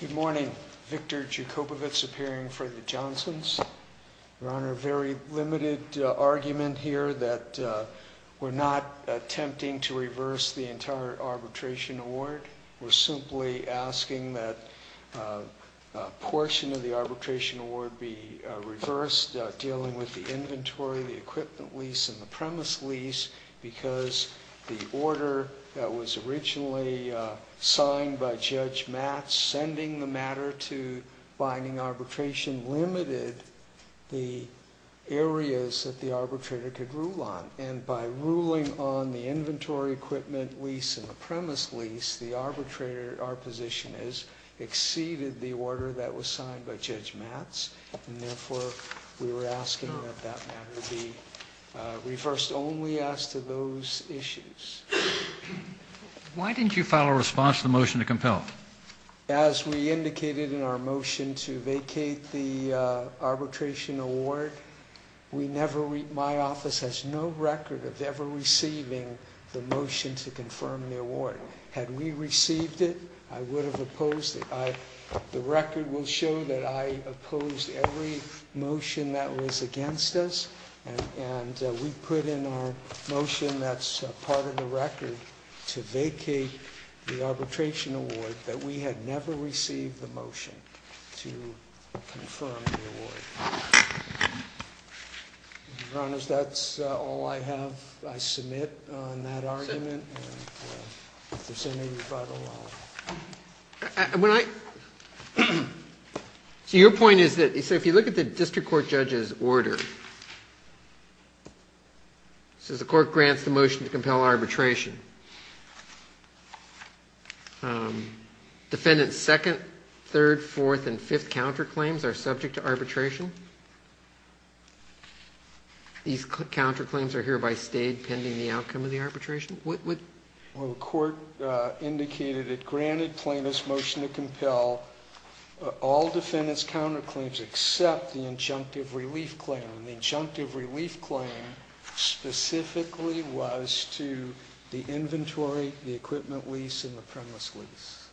Good morning, Victor Joukopovits appearing for the Johnsons. Your Honor, a very limited argument here that we're not attempting to reverse the entire arbitration award. We're simply asking that a portion of the arbitration award be reversed, dealing with the inventory, the equipment lease, and the premise lease, because the order that was originally signed by Judge Matz sending the matter to binding arbitration limited the areas that the arbitrator could rule on. And by ruling on the inventory, equipment lease, and the premise lease, the arbitrator at our position has exceeded the order that was signed by Judge Matz. And therefore, we were asking that that matter be reversed only as to those issues. Why didn't you file a response to the motion to compel? As we indicated in our motion to vacate the arbitration award, my office has no record of ever receiving the motion to confirm the award. Had we received it, I would have opposed it. The record will show that I opposed every motion that was against us. And we put in our motion that's part of the record to vacate the arbitration award that we had never received the motion to confirm the award. Your Honor, that's all I have. I submit on that argument. And if there's any, you're quite allowed. So your point is that if you look at the district court judge's order, it says the court grants the motion to compel arbitration. Defendant's second, third, fourth, and fifth counterclaims are subject to arbitration. These counterclaims are hereby stayed pending the outcome of the arbitration. The court indicated it granted plaintiff's motion to compel all defendant's counterclaims except the injunctive relief claim. The injunctive relief claim specifically was to the inventory, the equipment lease, and the premise lease.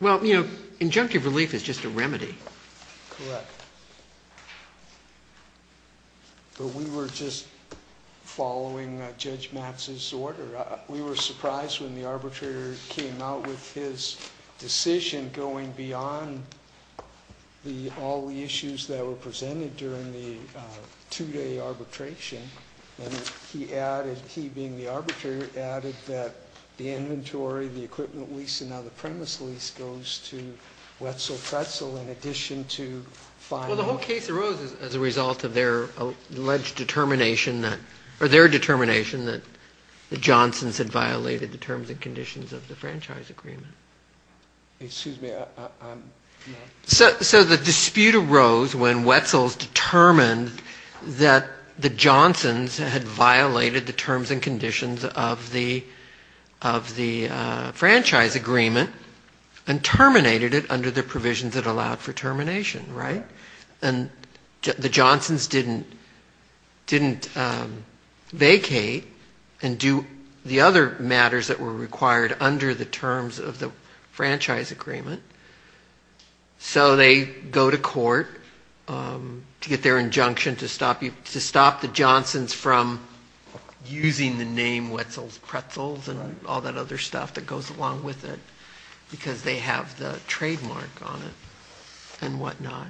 Well, you know, injunctive relief is just a remedy. Correct. But we were just following Judge Matz's order. We were surprised when the arbitrator came out with his decision going beyond all the issues that were presented during the two-day arbitration. And he added, he being the arbitrator, added that the inventory, the equipment lease, and now the premise lease goes to Wetzel Pretzel in addition to filing. The whole case arose as a result of their alleged determination that, or their determination that the Johnsons had violated the terms and conditions of the franchise agreement. Excuse me. So the dispute arose when Wetzel determined that the Johnsons had violated the terms and conditions of the franchise agreement and terminated it under the provisions that allowed for termination, right? And the Johnsons didn't vacate and do the other matters that were required under the terms of the franchise agreement. So they go to court to get their injunction to stop the Johnsons from using the name Wetzel's Pretzels and all that other stuff that goes along with it because they have the trademark on it and whatnot.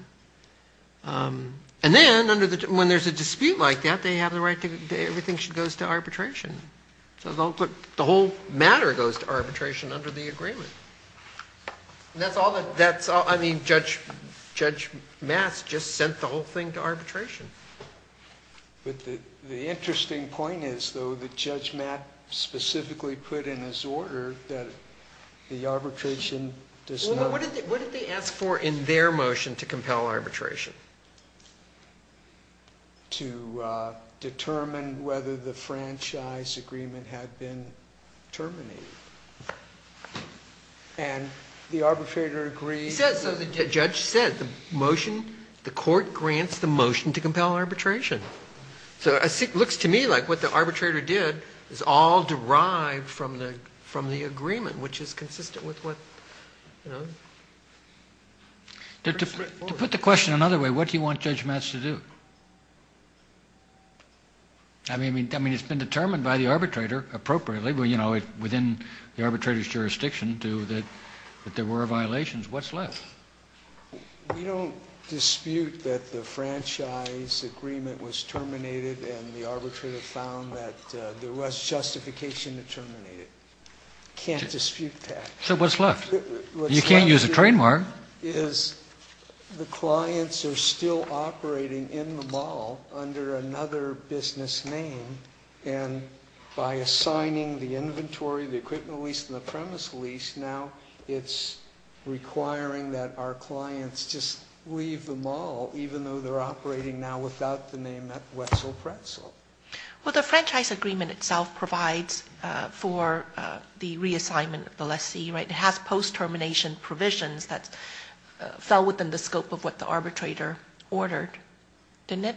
And then when there's a dispute like that, they have the right to, everything goes to arbitration. The whole matter goes to arbitration under the agreement. And that's all that, I mean, Judge Maas just sent the whole thing to arbitration. But the interesting point is, though, that Judge Maas specifically put in his order that the arbitration does not... What did they ask for in their motion to compel arbitration? To determine whether the franchise agreement had been terminated. And the arbitrator agreed... He said, so the judge said, the motion, the court grants the motion to compel arbitration. So it looks to me like what the arbitrator did is all derived from the agreement, which is consistent with what, you know... To put the question another way, what do you want Judge Maas to do? I mean, it's been determined by the arbitrator appropriately, you know, within the arbitrator's jurisdiction that there were violations. What's left? We don't dispute that the franchise agreement was terminated and the arbitrator found that there was justification to terminate it. Can't dispute that. So what's left? You can't use a trademark. What's left is the clients are still operating in the mall under another business name. And by assigning the inventory, the equipment lease, and the premise lease, now it's requiring that our clients just leave the mall, even though they're operating now without the name at Wessel Pretzel. Well, the franchise agreement itself provides for the reassignment of the lessee, right? That fell within the scope of what the arbitrator ordered, didn't it?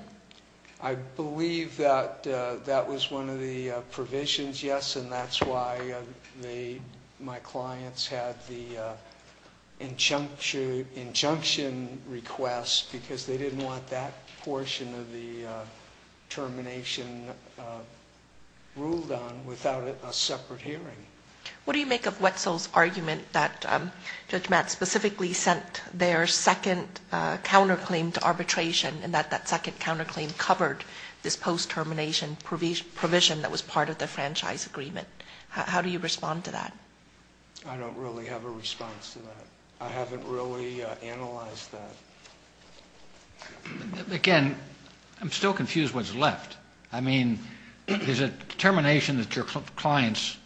I believe that that was one of the provisions, yes, and that's why my clients had the injunction request, because they didn't want that portion of the termination ruled on without a separate hearing. What do you make of Wessel's argument that Judge Matt specifically sent their second counterclaim to arbitration and that that second counterclaim covered this post-termination provision that was part of the franchise agreement? How do you respond to that? I don't really have a response to that. I haven't really analyzed that. Again, I'm still confused what's left. I mean, there's a determination that your clients,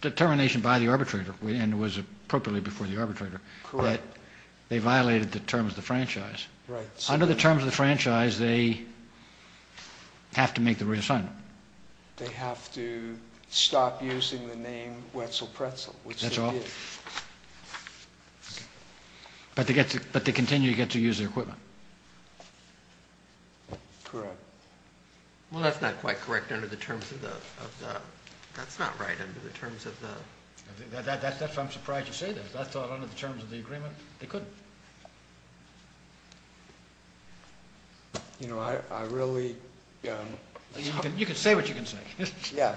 determination by the arbitrator, and it was appropriately before the arbitrator, that they violated the terms of the franchise. Right. Under the terms of the franchise, they have to make the reassignment. They have to stop using the name Wessel Pretzel, which they did. That's all. But they continue to get to use their equipment. Correct. Well, that's not quite correct under the terms of the—that's not right under the terms of the— That's why I'm surprised you say that. I thought under the terms of the agreement, they couldn't. You know, I really— You can say what you can say. Yeah.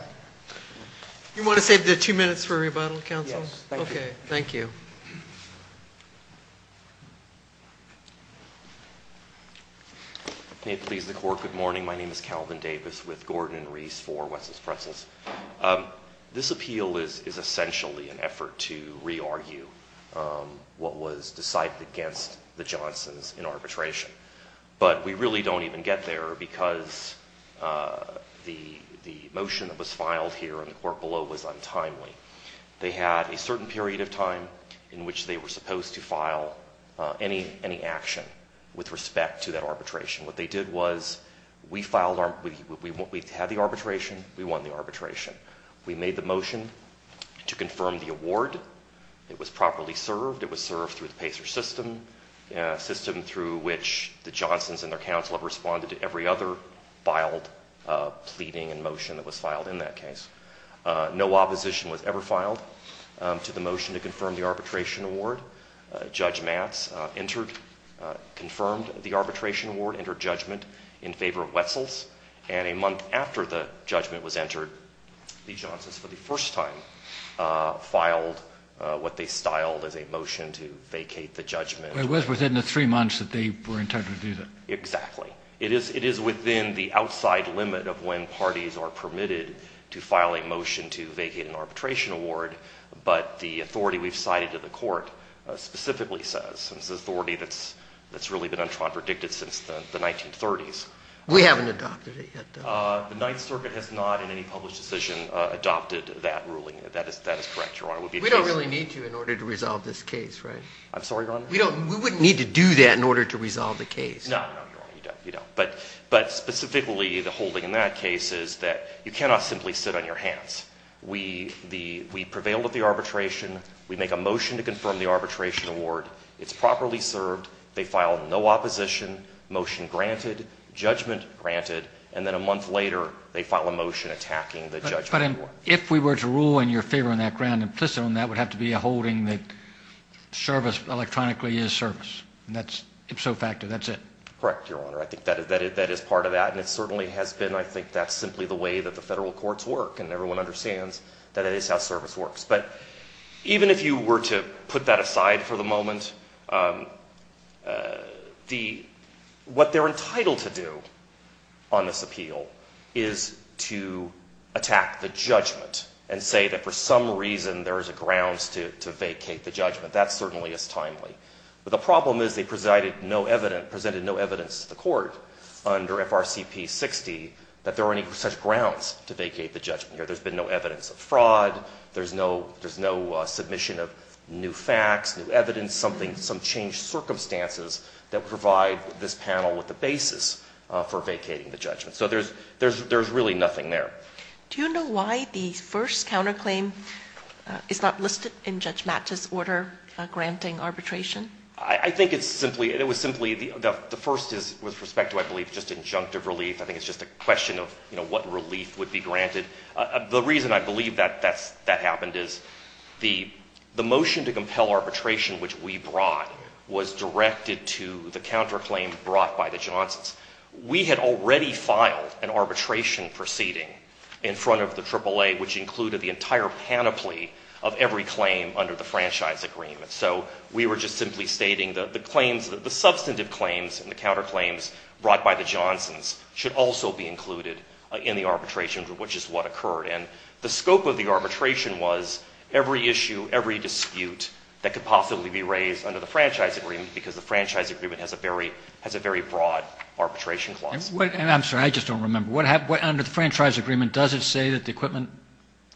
You want to save the two minutes for a rebuttal, counsel? Yes, thank you. Okay, thank you. May it please the Court, good morning. My name is Calvin Davis with Gordon and Reese for Wessel's Pretzels. This appeal is essentially an effort to re-argue what was decided against the Johnsons in arbitration. But we really don't even get there because the motion that was filed here in the court below was untimely. They had a certain period of time in which they were supposed to file any action with respect to that arbitration. What they did was we filed—we had the arbitration, we won the arbitration. We made the motion to confirm the award. It was properly served. It was served through the PACER system, a system through which the Johnsons and their counsel have responded to every other filed pleading and motion that was filed in that case. No opposition was ever filed to the motion to confirm the arbitration award. Judge Matz entered—confirmed the arbitration award, entered judgment in favor of Wessel's. And a month after the judgment was entered, the Johnsons for the first time filed what they styled as a motion to vacate the judgment. It was within the three months that they were entitled to do that. Exactly. It is within the outside limit of when parties are permitted to file a motion to vacate an arbitration award. But the authority we've cited to the court specifically says it's an authority that's really been unpredicted since the 1930s. We haven't adopted it yet, though. The Ninth Circuit has not in any published decision adopted that ruling. That is correct, Your Honor. We don't really need to in order to resolve this case, right? I'm sorry, Your Honor? We wouldn't need to do that in order to resolve the case. No, no, Your Honor, you don't. You don't. But specifically, the holding in that case is that you cannot simply sit on your hands. We prevailed at the arbitration. We make a motion to confirm the arbitration award. It's properly served. They file no opposition, motion granted, judgment granted, and then a month later they file a motion attacking the judgment award. But if we were to rule in your favor on that ground, implicit on that would have to be a holding that service electronically is service. And that's ipso facto. That's it. Correct, Your Honor. I think that is part of that, and it certainly has been. I think that's simply the way that the federal courts work, and everyone understands that it is how service works. But even if you were to put that aside for the moment, what they're entitled to do on this appeal is to attack the judgment and say that for some reason there is a grounds to vacate the judgment. That certainly is timely. But the problem is they presided no evidence, presented no evidence to the court under FRCP 60 that there are any such grounds to vacate the judgment. There's been no evidence of fraud. There's no submission of new facts, new evidence, something, some changed circumstances that would provide this panel with the basis for vacating the judgment. So there's really nothing there. Do you know why the first counterclaim is not listed in Judge Mattis' order granting arbitration? I think it's simply, it was simply, the first is with respect to, I believe, just injunctive relief. I think it's just a question of, you know, what relief would be granted. The reason I believe that that happened is the motion to compel arbitration, which we brought, was directed to the counterclaim brought by the Johnsons. We had already filed an arbitration proceeding in front of the AAA, which included the entire panoply of every claim under the franchise agreement. So we were just simply stating the claims, the substantive claims and the counterclaims brought by the Johnsons should also be included in the arbitration, which is what occurred. And the scope of the arbitration was every issue, every dispute that could possibly be raised under the franchise agreement has a very broad arbitration clause. I'm sorry, I just don't remember. Under the franchise agreement, does it say that the equipment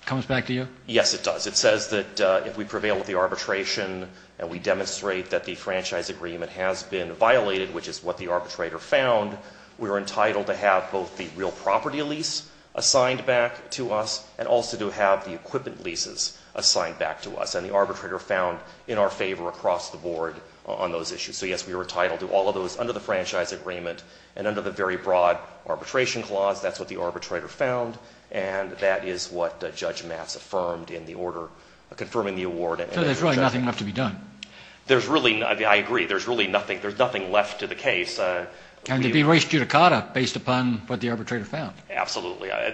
comes back to you? Yes, it does. It says that if we prevail with the arbitration and we demonstrate that the franchise agreement has been violated, which is what the arbitrator found, we're entitled to have both the real property lease assigned back to us and also to have the equipment leases assigned back to us. And the arbitrator found in our favor across the board on those issues. So, yes, we were entitled to all of those under the franchise agreement and under the very broad arbitration clause. That's what the arbitrator found. And that is what Judge Matz affirmed in the order confirming the award. So there's really nothing left to be done. There's really, I agree, there's really nothing. There's nothing left to the case. Absolutely. At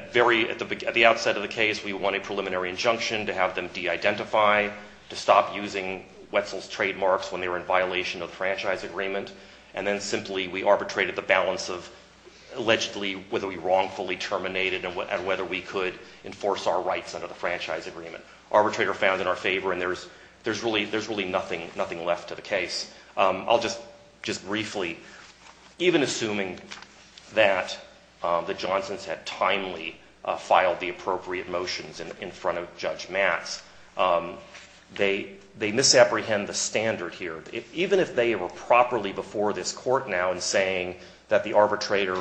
the outset of the case, we wanted preliminary injunction to have them de-identify, to stop using Wetzel's trademarks when they were in violation of the franchise agreement, and then simply we arbitrated the balance of allegedly whether we wrongfully terminated and whether we could enforce our rights under the franchise agreement. Arbitrator found in our favor, and there's really nothing left to the case. I'll just briefly, even assuming that the Johnsons had timely filed the appropriate motions in front of Judge Matz, they misapprehend the standard here. Even if they were properly before this court now in saying that the arbitrator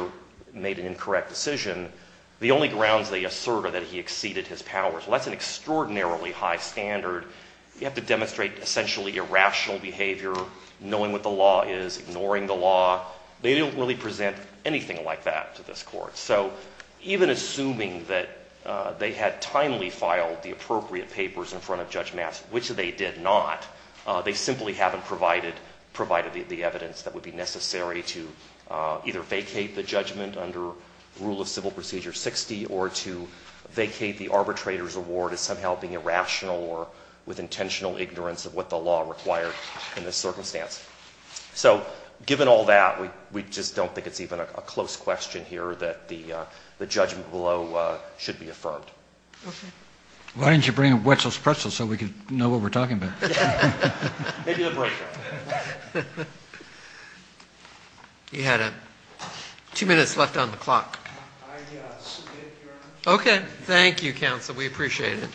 made an incorrect decision, the only grounds they assert are that he exceeded his powers. Well, that's an extraordinarily high standard. You have to demonstrate essentially irrational behavior, knowing what the law is, ignoring the law. They don't really present anything like that to this court. So even assuming that they had timely filed the appropriate papers in front of Judge Matz, which they did not, they simply haven't provided the evidence that would be necessary to either vacate the judgment under Rule of Civil Procedure 60 or to vacate the arbitrator's award as somehow being irrational or with intentional ignorance of what the law required in this circumstance. So given all that, we just don't think it's even a close question here that the judgment below should be affirmed. Okay. Why didn't you bring a Wetzel's pretzel so we could know what we're talking about? Maybe the breakdown. You had two minutes left on the clock. I submit, Your Honor. Okay. Thank you, counsel. We appreciate it.